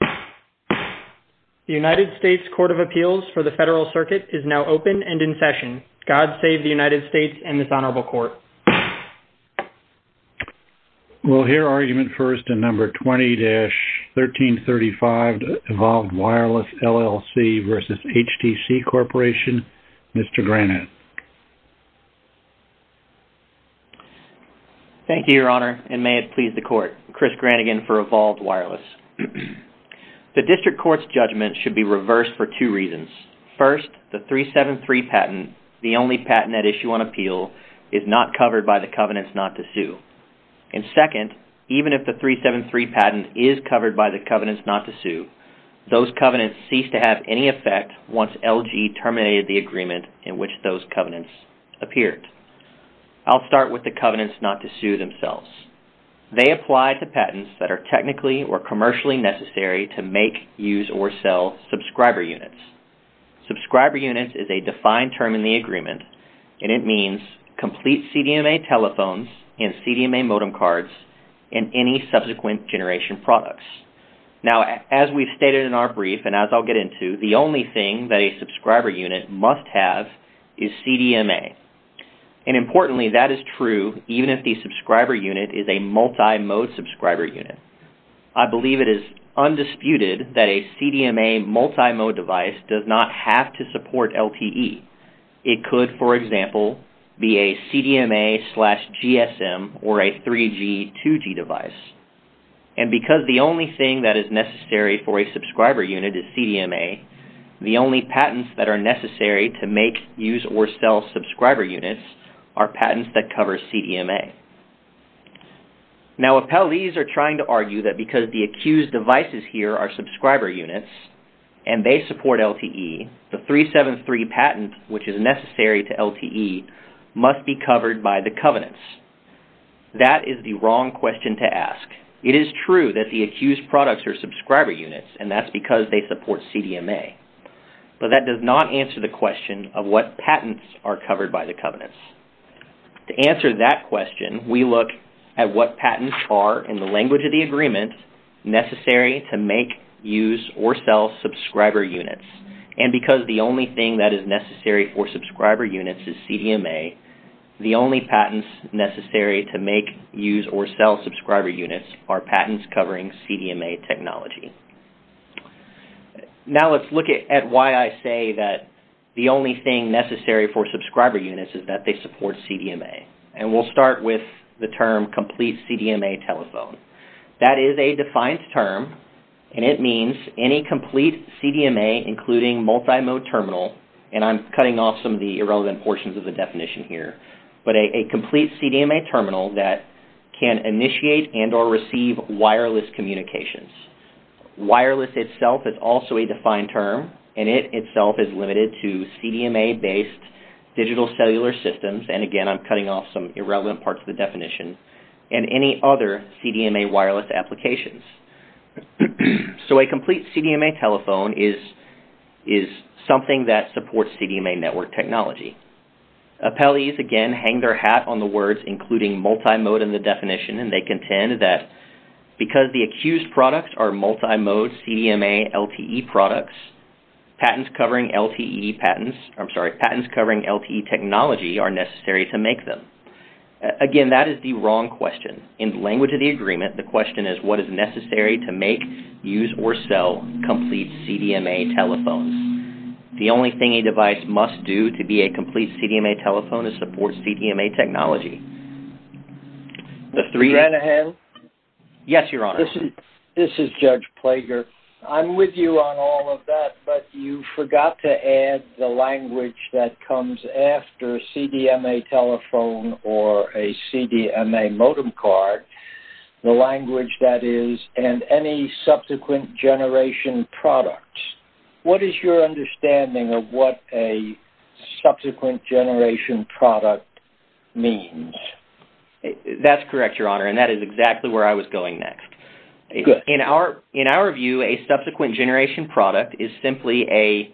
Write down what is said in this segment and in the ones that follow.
The United States Court of Appeals for the Federal Circuit is now open and in session. God save the United States and this Honorable Court. We'll hear argument first in No. 20-1335, Evolved Wireless, LLC v. HTC Corporation. Mr. Granitz. Thank you, Your Honor, and may it please the Court. Chris Granigan for Evolved Wireless. The District Court's judgment should be reversed for two reasons. First, the 373 patent, the only patent at issue on appeal, is not covered by the covenants not to sue. And second, even if the 373 patent is covered by the covenants not to sue, those covenants cease to have any effect once LG terminated the agreement in which those covenants appeared. I'll start with the covenants not to sue themselves. They apply to patents that are technically or commercially necessary to make, use, or sell subscriber units. Subscriber units is a defined term in the agreement and it means complete CDMA telephones and CDMA modem cards and any subsequent generation products. Now, as we've stated in our brief and as I'll get into, the only thing that a subscriber unit must have is CDMA. And importantly, that is true even if the subscriber unit is a multi-mode subscriber unit. I believe it is undisputed that a CDMA multi-mode device does not have to support LTE. It could, for example, be a CDMA slash GSM or a 3G, 2G device. And because the only thing that is necessary for a subscriber unit is CDMA, the only patents that are necessary to make, use, or sell subscriber units are patents that cover CDMA. Now, if penalties are trying to argue that because the accused devices here are subscriber units and they support LTE, the 373 patent, which is necessary to LTE, must be covered by the covenants. That is the wrong question to ask. It is true that the accused products are subscriber units and that's because they support CDMA. But that does not answer the question of what patents are covered by the covenants. To answer that question, we look at what patents are, in the language of the agreement, necessary to make, use, or sell subscriber units. And because the only thing that is necessary for subscriber units is CDMA, the only patents necessary to make, use, or sell subscriber units are patents covering CDMA technology. Now, let's look at why I say that the only thing necessary for subscriber units is that they support CDMA. And we'll start with the term complete CDMA telephone. That is a defined term and it means any complete CDMA, including multimode terminal, and I'm cutting off some of the irrelevant portions of the definition here, but a complete CDMA terminal that can initiate and or receive wireless communications. Wireless itself is also a defined term and it itself is limited to CDMA-based digital cellular systems, and again, I'm cutting off some irrelevant parts of the definition, and any other CDMA wireless applications. So a complete CDMA telephone is something that supports CDMA network technology. Appellees, again, hang their hat on the words, including multimode in the definition, and they contend that because the accused products are multimode CDMA LTE products, patents covering LTE technology are necessary to make them. Again, that is the wrong question. In the language of the agreement, the question is what is necessary to make, use, or sell complete CDMA telephones. The only thing a device must do to be a complete CDMA telephone is support CDMA technology. The three... Is that a hand? Yes, Your Honor. This is Judge Plager. I'm with you on all of that, but you forgot to add the language that comes after CDMA telephone or a CDMA modem card, the language that is, and any subsequent generation products. What is your understanding of what a subsequent generation product means? That's correct, Your Honor, and that is exactly where I was going next. Good. In our view, a subsequent generation product is simply a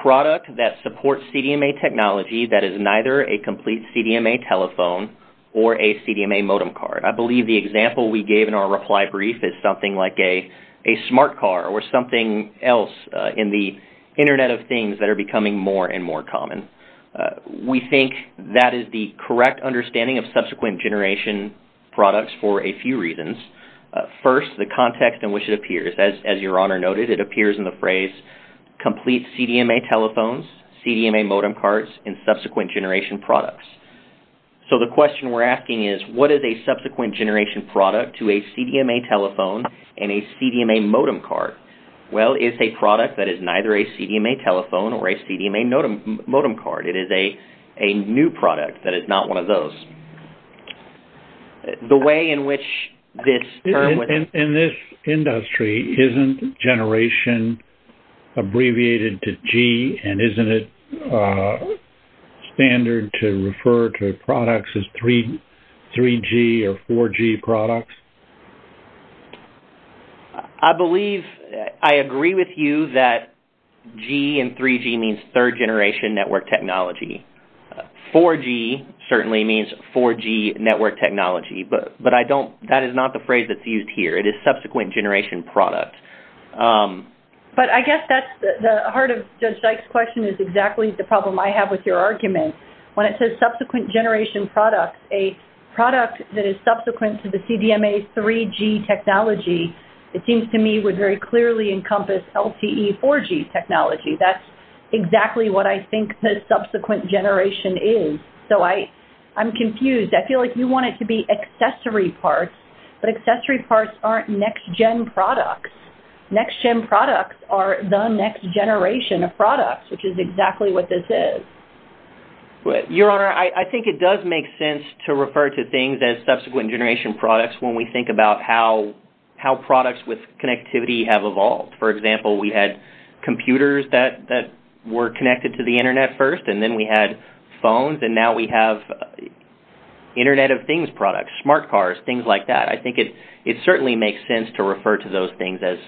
product that supports CDMA technology that is neither a complete CDMA telephone or a CDMA modem card. I believe the example we gave in our reply brief is something like a smart car or something else in the Internet of Things that are becoming more and more common. We think that is the correct understanding of subsequent generation products for a few reasons. First, the context in which it appears. As Your Honor noted, it appears in the phrase complete CDMA telephones, CDMA modem cards, and subsequent generation products. So the question we're asking is what is a subsequent generation product to a CDMA telephone and a CDMA modem card? Well, it's a product that is neither a CDMA telephone or a CDMA modem card. It is a new product that is not one of those. The way in which this term was… In this industry, isn't generation abbreviated to G and isn't it standard to refer to products as 3G or 4G products? I believe I agree with you that G and 3G means third generation network technology. 4G certainly means 4G network technology, but that is not the phrase that's used here. It is subsequent generation product. But I guess that's the heart of Judge Dyke's question is exactly the problem I have with your argument. When it says subsequent generation product, a product that is subsequent to the CDMA 3G technology, it seems to me would very clearly encompass LTE 4G technology. That's exactly what I think the subsequent generation is. So I'm confused. I feel like you want it to be accessory parts, but accessory parts aren't next-gen products. Next-gen products are the next generation of products, which is exactly what this is. Your Honor, I think it does make sense to refer to things as subsequent generation products when we think about how products with connectivity have evolved. For example, we had computers that were connected to the Internet first, and then we had phones, and now we have Internet of Things products, smart cars, things like that. I think it certainly makes sense to refer to those things as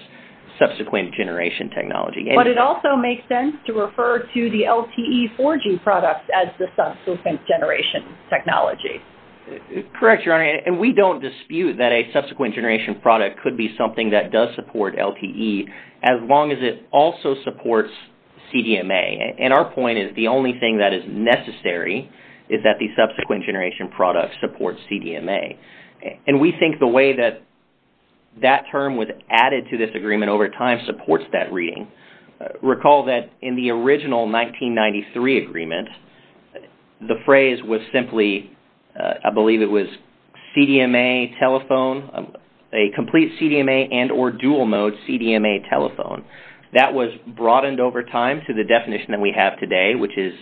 subsequent generation technology. But it also makes sense to refer to the LTE 4G products as the subsequent generation technology. Correct, Your Honor, and we don't dispute that a subsequent generation product could be something that does support LTE as long as it also supports CDMA. Our point is the only thing that is necessary is that the subsequent generation product supports CDMA. We think the way that that term was added to this agreement over time supports that reading. Recall that in the original 1993 agreement, the phrase was simply, I believe it was, CDMA telephone, a complete CDMA and or dual-mode CDMA telephone. That was broadened over time to the definition that we have today, which is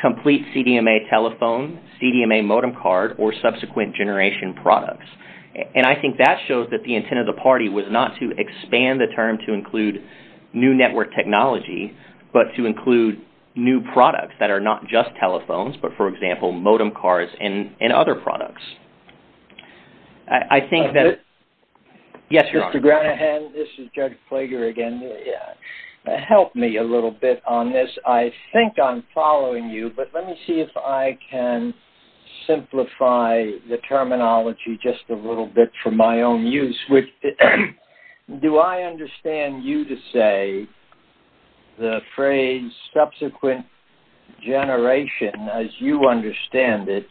complete CDMA telephone, CDMA modem card, or subsequent generation products. I think that shows that the intent of the party was not to expand the term to include new network technology, but to include new products that are not just telephones, but, for example, modem cards and other products. I think that... Yes, Your Honor. Mr. Granahan, this is Judge Flager again. Help me a little bit on this. I think I'm following you, but let me see if I can simplify the terminology just a little bit for my own use. Do I understand you to say the phrase subsequent generation, as you understand it,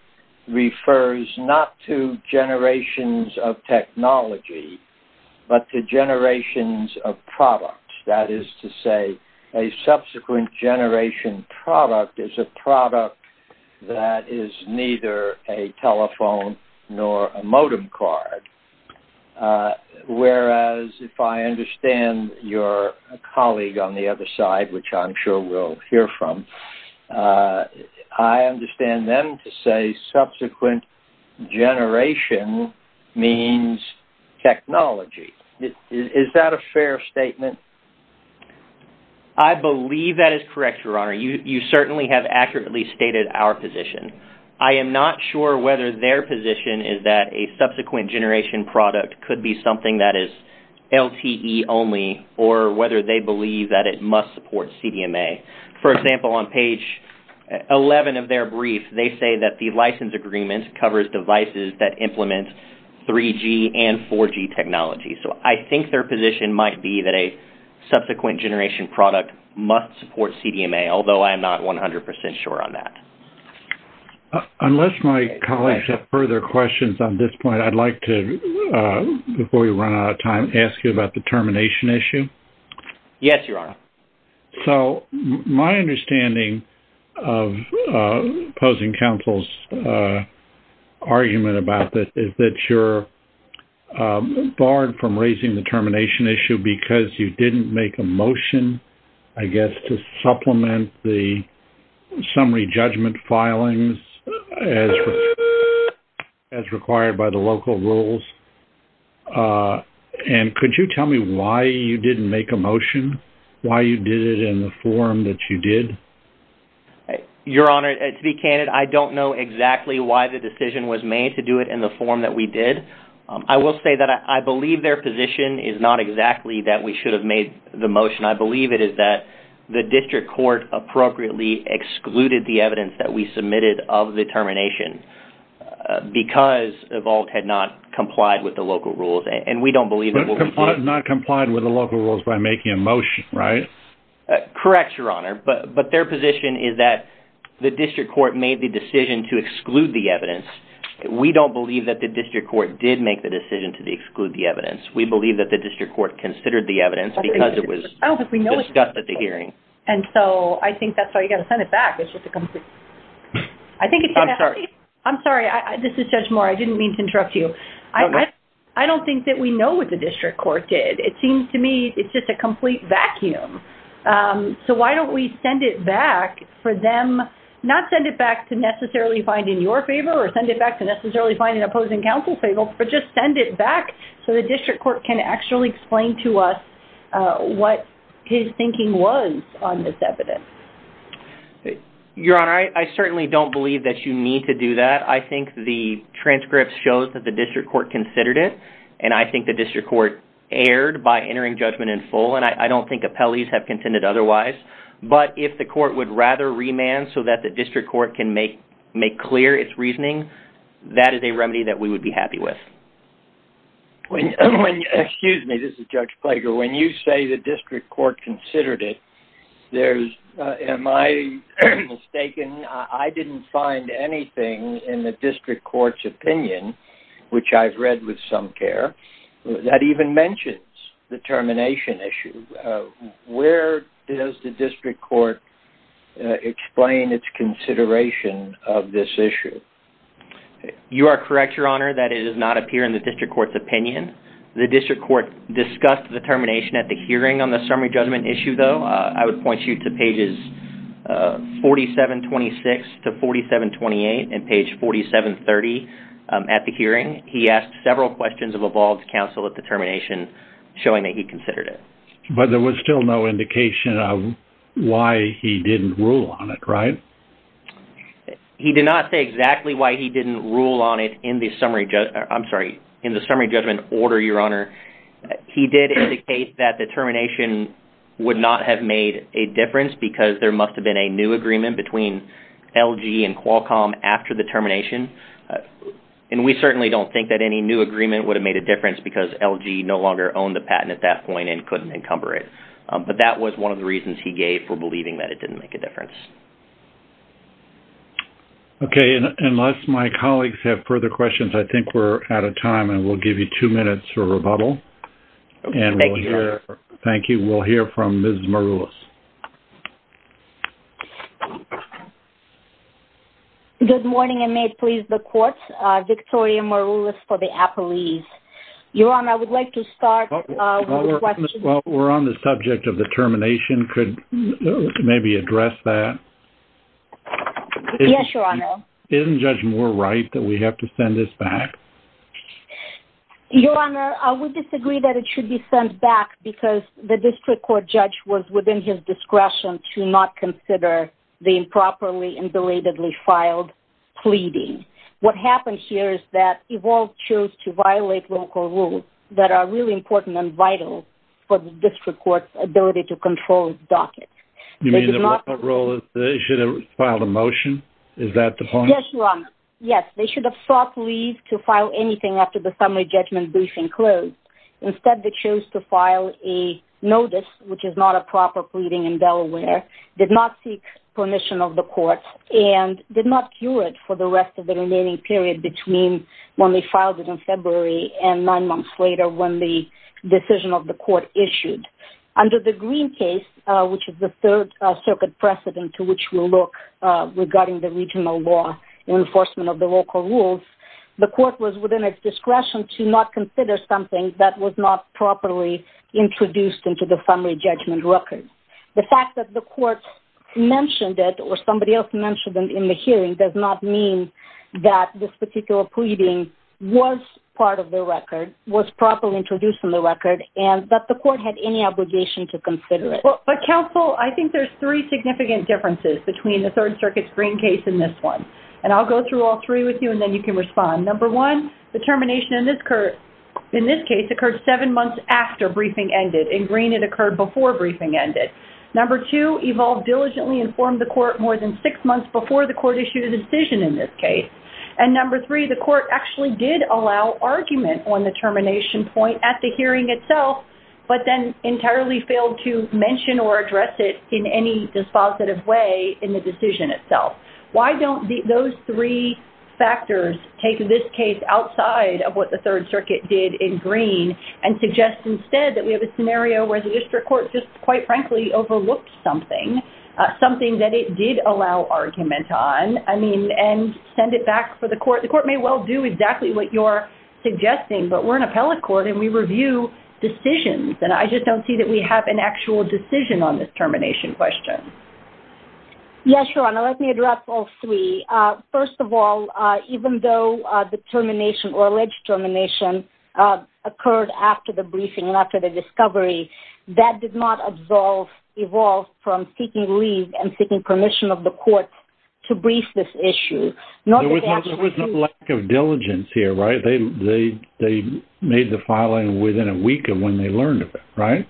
refers not to generations of technology, but to generations of products? That is to say, a subsequent generation product is a product that is neither a telephone nor a modem card. Whereas, if I understand your colleague on the other side, which I'm sure we'll hear from, I understand them to say subsequent generation means technology. Is that a fair statement? I believe that is correct, Your Honor. You certainly have accurately stated our position. I am not sure whether their position is that a subsequent generation product could be something that is LTE only or whether they believe that it must support CDMA. For example, on page 11 of their brief, they say that the license agreement covers devices that implement 3G and 4G technology. So, I think their position might be that a subsequent generation product must support CDMA, although I'm not 100% sure on that. Unless my colleagues have further questions on this point, I'd like to, before we run out of time, ask you about the termination issue. Yes, Your Honor. So, my understanding of opposing counsel's argument about this is that you're barred from raising the termination issue because you didn't make a motion, I guess, to supplement the summary judgment filings as required by the local rules. And could you tell me why you didn't make a motion, why you did it in the form that you did? Your Honor, to be candid, I don't know exactly why the decision was made to do it in the form that we did. I will say that I believe their position is not exactly that we should have made the motion. I believe it is that the district court appropriately excluded the evidence that we submitted of the termination because EVALT had not complied with the local rules. And we don't believe that... Not complied with the local rules by making a motion, right? Correct, Your Honor. But their position is that the district court made the decision to exclude the evidence. We don't believe that the district court did make the decision to exclude the evidence. We believe that the district court considered the evidence because it was discussed at the hearing. And so, I think that's why you've got to send it back. I'm sorry. I'm sorry. This is Judge Moore. I didn't mean to interrupt you. I don't think that we know what the district court did. It seems to me it's just a complete vacuum. So, why don't we send it back for them... Not send it back to necessarily find in your favor or send it back to necessarily find an opposing counsel favor, but just send it back so the district court can actually explain to us what his thinking was on this evidence. Your Honor, I certainly don't believe that you need to do that. I think the transcript shows that the district court considered it. And I think the district court erred by entering judgment in full. And I don't think appellees have contended otherwise. But if the court would rather remand so that the district court can make clear its reasoning, that is a remedy that we would be happy with. Excuse me. This is Judge Plager. When you say the district court considered it, am I mistaken? I didn't find anything in the district court's opinion, which I've read with some care, that even mentions the termination issue. Where does the district court explain its consideration of this issue? You are correct, Your Honor, that it does not appear in the district court's opinion. The district court discussed the termination at the hearing on the summary judgment issue, though. I would point you to pages 4726 to 4728 and page 4730 at the hearing. He asked several questions of evolved counsel at the termination, showing that he considered it. But there was still no indication of why he didn't rule on it, right? He did not say exactly why he didn't rule on it in the summary judgment order, Your Honor. He did indicate that the termination would not have made a difference because there must have been a new agreement between LG and Qualcomm after the termination. We certainly don't think that any new agreement would have made a difference because LG no longer owned the patent at that point and couldn't encumber it. But that was one of the reasons he gave for believing that it didn't make a difference. Unless my colleagues have further questions, I think we're out of time. We'll give you two minutes for rebuttal. Thank you, Your Honor. We'll hear from Ms. Maroulis. Good morning, and may it please the court. Victoria Maroulis for the Apple East. Your Honor, I would like to start with the question. Well, we're on the subject of the termination. Could you maybe address that? Yes, Your Honor. Isn't Judge Moore right that we have to send this back? Your Honor, I would disagree that it should be sent back because the district court judge was within his discretion to not consider the improperly and belatedly filed pleading. What happened here is that EVOL chose to violate local rules that are really important and vital for the district court's ability to control its docket. You mean the EVOL should have filed a motion? Is that the point? Yes, Your Honor. Yes, they should have sought leave to file anything after the summary judgment briefing closed. Instead, they chose to file a notice, which is not a proper pleading in Delaware, did not seek permission of the court, and did not cure it for the rest of the remaining period between when they filed it in February and nine months later when the decision of the court issued. Under the Green case, which is the third circuit precedent to which we'll look regarding the regional law and enforcement of the local rules, the court was within its discretion to not consider something that was not properly introduced into the summary judgment record. The fact that the court mentioned it or somebody else mentioned it in the hearing does not mean that this particular pleading was part of the record, was properly introduced in the record, and that the court had any obligation to consider it. But, counsel, I think there's three significant differences between the third circuit Green case and this one. And I'll go through all three with you, and then you can respond. Number one, the termination in this case occurred seven months after briefing ended. In Green, it occurred before briefing ended. Number two, EVOLVE diligently informed the court more than six months before the court issued a decision in this case. And number three, the court actually did allow argument on the termination point at the hearing itself, but then entirely failed to mention or address it in any dispositive way in the decision itself. Why don't those three factors take this case outside of what the third circuit did in Green and suggest instead that we have a scenario where the district court just, quite frankly, overlooked something, something that it did allow argument on, and send it back for the court. The court may well do exactly what you're suggesting, but we're an appellate court, and we review decisions, and I just don't see that we have an actual decision on this termination question. Yes, Your Honor, let me address all three. First of all, even though the termination or alleged termination occurred after the briefing and after the discovery, that did not absolve EVOLVE from seeking leave and seeking permission of the court to brief this issue. There was no lack of diligence here, right? They made the filing within a week of when they learned of it, right?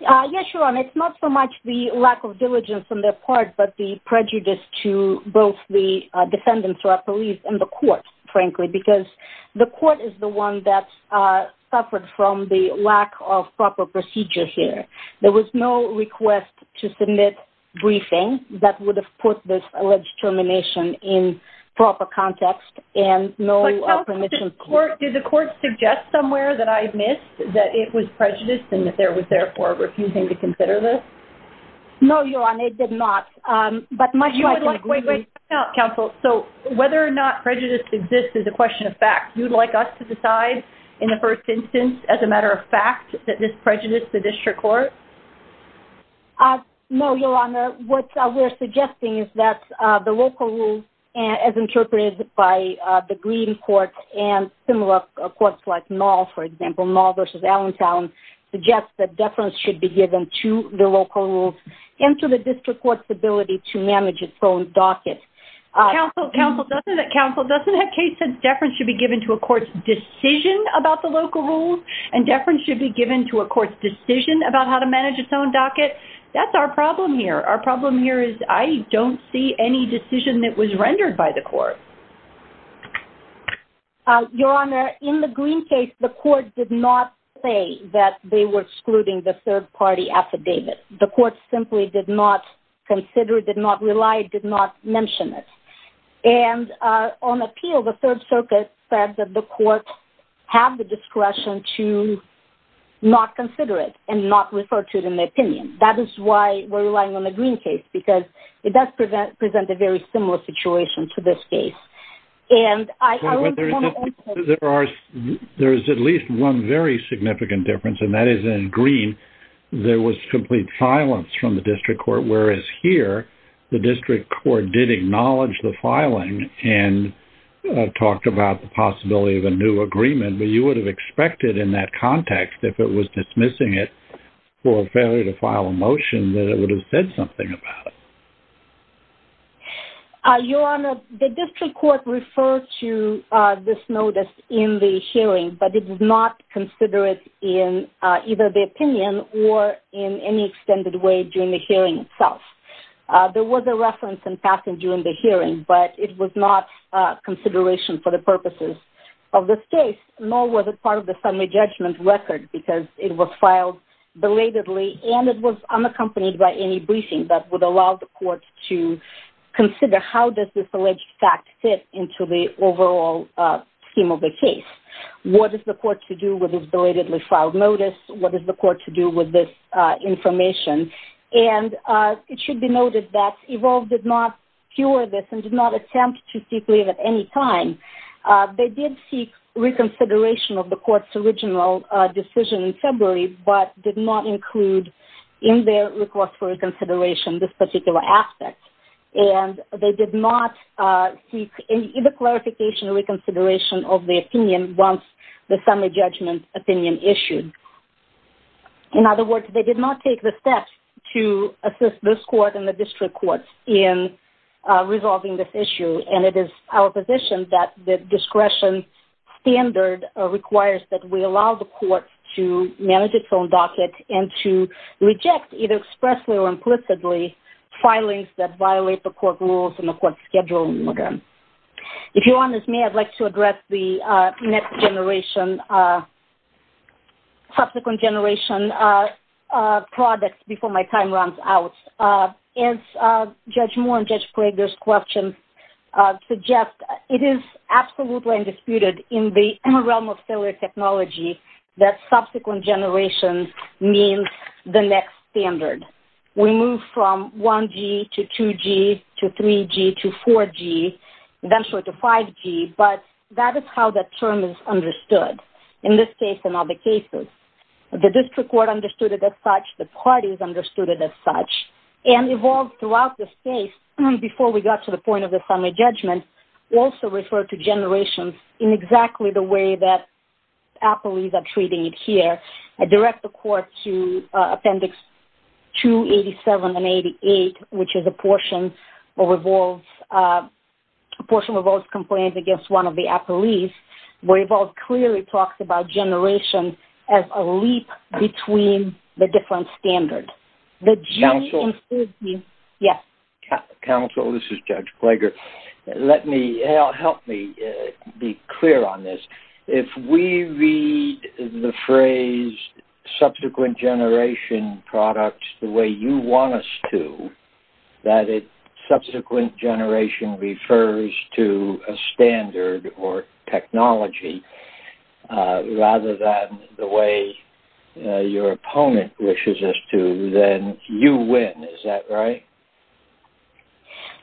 Yes, Your Honor, it's not so much the lack of diligence on their part, but the prejudice to both the defendants or our police and the court, frankly, because the court is the one that suffered from the lack of proper procedure here. There was no request to submit briefing that would have put this alleged termination in proper context and no permission. Did the court suggest somewhere that I missed that it was prejudiced and that there was, therefore, refusing to consider this? No, Your Honor, it did not. Wait, wait. Counsel, so whether or not prejudice exists is a question of fact. Would you like us to decide in the first instance, as a matter of fact, that this prejudiced the district court? No, Your Honor. What we're suggesting is that the local rules, as interpreted by the Green Court and similar courts like Nall, for example, Nall v. Allentown, suggests that deference should be given to the local rules and to the district court's ability to manage its own docket. Counsel, Counsel, doesn't it, Counsel, doesn't that case say deference should be given to a court's decision about the local rules and deference should be given to a court's decision about how to manage its own docket? That's our problem here. Our problem here is I don't see any decision that was rendered by the court. Your Honor, in the Green case, the court did not say that they were excluding the third-party affidavit. The court simply did not consider it, did not rely, did not mention it. And on appeal, the Third Circuit said that the court had the discretion to not consider it and not refer to it in the opinion. That is why we're relying on the Green case because it does present a very similar situation to this case. There is at least one very significant difference, and that is in Green, there was complete silence from the district court, whereas here, the district court did acknowledge the filing and talked about the possibility of a new agreement. But you would have expected in that context, if it was dismissing it for a failure to file a motion, that it would have said something about it. Your Honor, the district court referred to this notice in the hearing, but it did not consider it in either the opinion or in any extended way during the hearing itself. There was a reference in passing during the hearing, but it was not consideration for the purposes of this case, nor was it part of the summary judgment record because it was filed belatedly and it was unaccompanied by any briefing that would allow the court to consider how does this alleged fact fit into the overall scheme of the case. What is the court to do with this belatedly filed notice? What is the court to do with this information? It should be noted that EVOLVE did not cure this and did not attempt to seek leave at any time. They did seek reconsideration of the court's original decision in February, but did not include in their request for reconsideration this particular aspect. They did not seek either clarification or reconsideration of the opinion once the summary judgment opinion issued. In other words, they did not take the steps to assist this court and the district courts in resolving this issue, and it is our position that the discretion standard requires that we allow the court to manage its own docket and to reject, either expressly or implicitly, filings that violate the court rules and the court schedule. If you'll allow me, I'd like to address the next generation, subsequent generation products before my time runs out. As Judge Moore and Judge Prager's questions suggest, it is absolutely undisputed in the realm of cellular technology that subsequent generation means the next standard. We move from 1G to 2G to 3G to 4G, eventually to 5G, but that is how that term is understood in this case and other cases. The district court understood it as such, the parties understood it as such, and EVOLVE throughout the space, before we got to the point of the summary judgment, also referred to generations in exactly the way that appellees are treating it here. I direct the court to Appendix 287 and 288, which is a portion of EVOLVE's complaints against one of the appellees, where EVOLVE clearly talks about generations as a leap between the different standards. Counsel, this is Judge Prager. Help me be clear on this. If we read the phrase subsequent generation products the way you want us to, that subsequent generation refers to a standard or technology, rather than the way your opponent wishes us to, then you win. Is that right?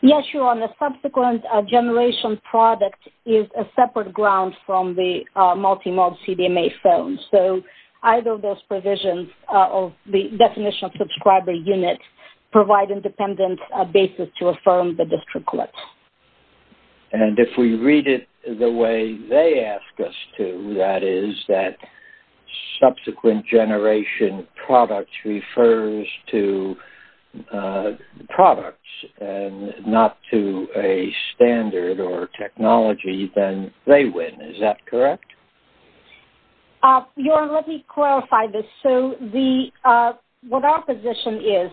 Yes, Your Honor. The subsequent generation product is a separate ground from the multi-mod CDMA phone. So either of those provisions of the definition of subscriber unit provide independent basis to affirm the district court. And if we read it the way they ask us to, that is that subsequent generation products refers to products and not to a standard or technology, then they win. Is that correct? Your Honor, let me clarify this. So what our position is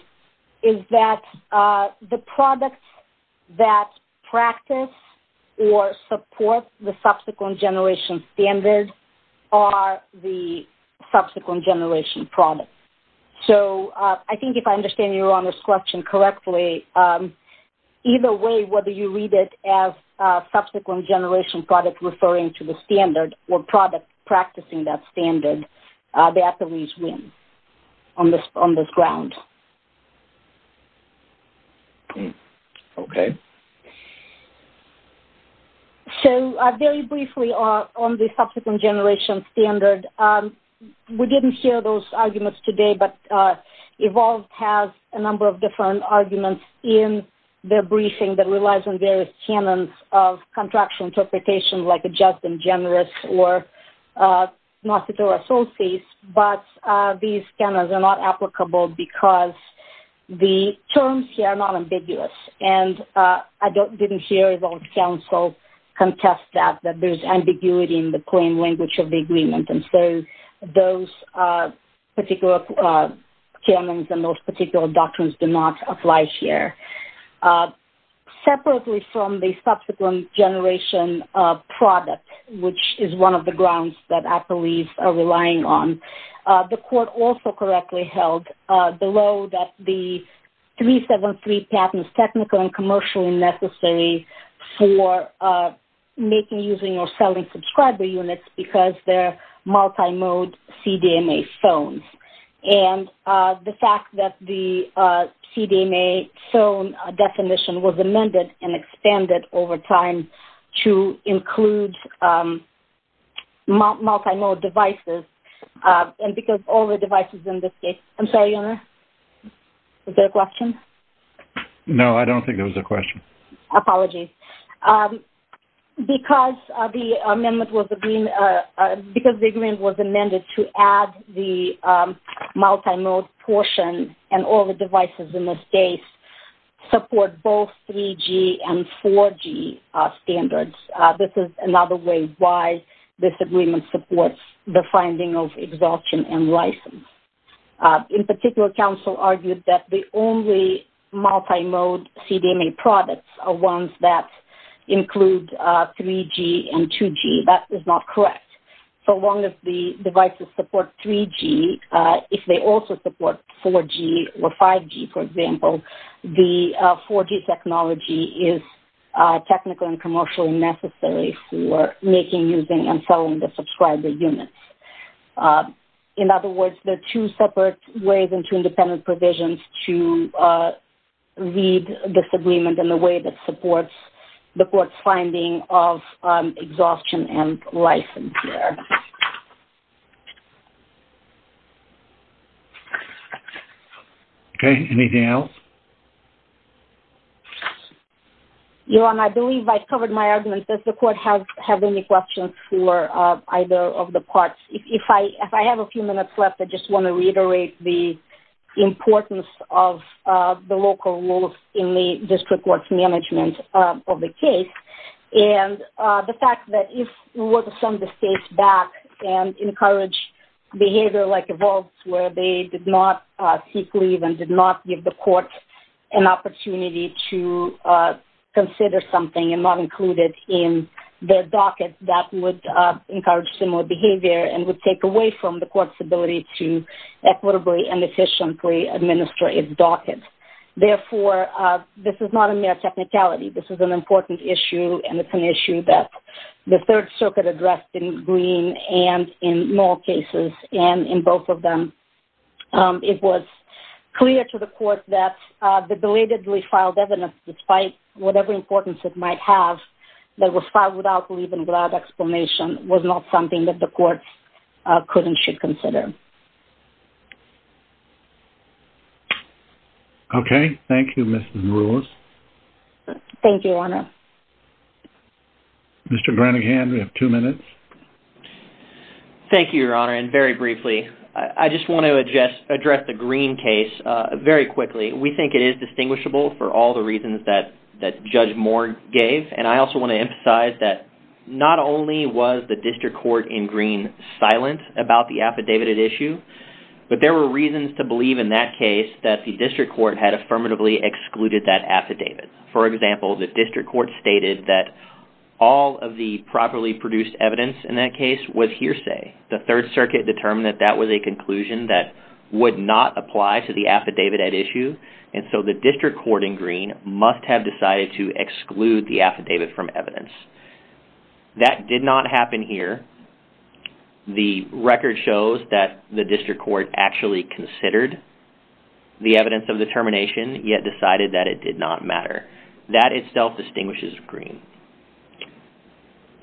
is that the products that practice or support the subsequent generation standard are the subsequent generation products. So I think if I understand Your Honor's question correctly, either way whether you read it as subsequent generation product referring to the standard or product practicing that standard, the athletes win on this ground. Okay. So very briefly on the subsequent generation standard, and we didn't hear those arguments today, but EVOLVED has a number of different arguments in their briefing that relies on various canons of contractual interpretation, like a just and generous or not to throw associates, but these canons are not applicable because the terms here are not ambiguous. And I didn't hear EVOLVED counsel contest that, that there's ambiguity in the plain language of the agreement. And so those particular canons and those particular doctrines do not apply here. Separately from the subsequent generation product, which is one of the grounds that athletes are relying on, the court also correctly held below that the 373 patent is technical and commercially necessary for making, using, or selling subscriber units because they're multimode CDMA phones. And the fact that the CDMA phone definition was amended and expanded over time to include multimode devices, and because all the devices in this case. I'm sorry, Your Honor, was there a question? No, I don't think there was a question. Apologies. Because the agreement was amended to add the multimode portion and all the devices in this case support both 3G and 4G standards, this is another way why this agreement supports the finding of exhaustion and license. In particular, counsel argued that the only multimode CDMA products are ones that include 3G and 2G. That is not correct. So long as the devices support 3G, if they also support 4G or 5G, for example, the 4G technology is technical and commercially necessary for making, using, and selling the subscriber units. In other words, there are two separate ways and two independent provisions to read this agreement in a way that supports the court's finding of exhaustion and license here. Okay, anything else? Your Honor, I believe I covered my argument. Does the court have any questions for either of the parts? If I have a few minutes left, I just want to reiterate the importance of the local rules in the district court's management of the case and the fact that if we were to send the case back and encourage behavior like evolves where they did not seek leave and did not give the court an opportunity to consider something and not include it in their docket, that would encourage similar behavior and would take away from the court's ability to equitably and efficiently administer its docket. Therefore, this is not a mere technicality. This is an important issue, and it's an issue that the Third Circuit addressed in Green and in all cases, and in both of them. It was clear to the court that the delatedly filed evidence, despite whatever importance it might have, that was filed without leave and without explanation was not something that the courts could and should consider. Okay, thank you, Mrs. Marouas. Thank you, Your Honor. Mr. Granaghan, we have two minutes. Thank you, Your Honor, and very briefly, I just want to address the Green case very quickly. We think it is distinguishable for all the reasons that Judge Moore gave, and I also want to emphasize that not only was the district court in Green silent about the affidavit at issue, but there were reasons to believe in that case that the district court had affirmatively excluded that affidavit. For example, the district court stated that all of the properly produced evidence in that case was hearsay. The Third Circuit determined that that was a conclusion that would not apply to the affidavit at issue, and so the district court in Green must have decided to exclude the affidavit from evidence. That did not happen here. The record shows that the district court actually considered the evidence of the termination, yet decided that it did not matter. That itself distinguishes Green.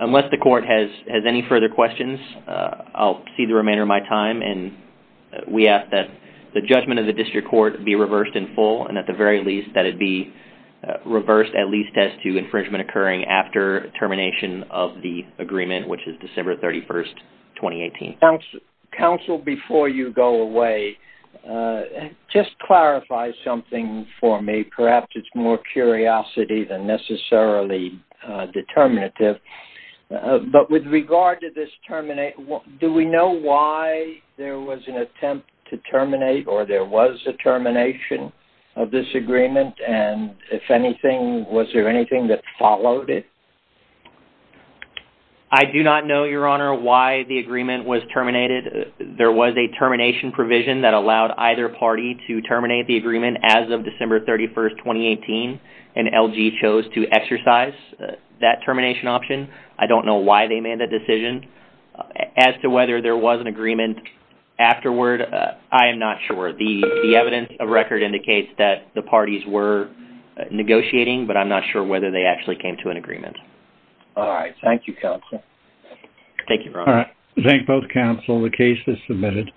Unless the court has any further questions, I'll cede the remainder of my time, and we ask that the judgment of the district court be reversed in full, and at the very least, that it be reversed at least as to infringement occurring after termination of the agreement, which is December 31, 2018. Counsel, before you go away, just clarify something for me. Perhaps it's more curiosity than necessarily determinative, but with regard to this termination, do we know why there was an attempt to terminate or there was a termination of this agreement, and if anything, was there anything that followed it? I do not know, Your Honor, why the agreement was terminated. There was a termination provision that allowed either party to terminate the agreement as of December 31, 2018, and LG chose to exercise that termination option. I don't know why they made that decision. As to whether there was an agreement afterward, I am not sure. The evidence of record indicates that the parties were negotiating, but I'm not sure whether they actually came to an agreement. All right. Thank you, Counsel. Thank you, Your Honor. All right. Thank both counsel. The case is submitted.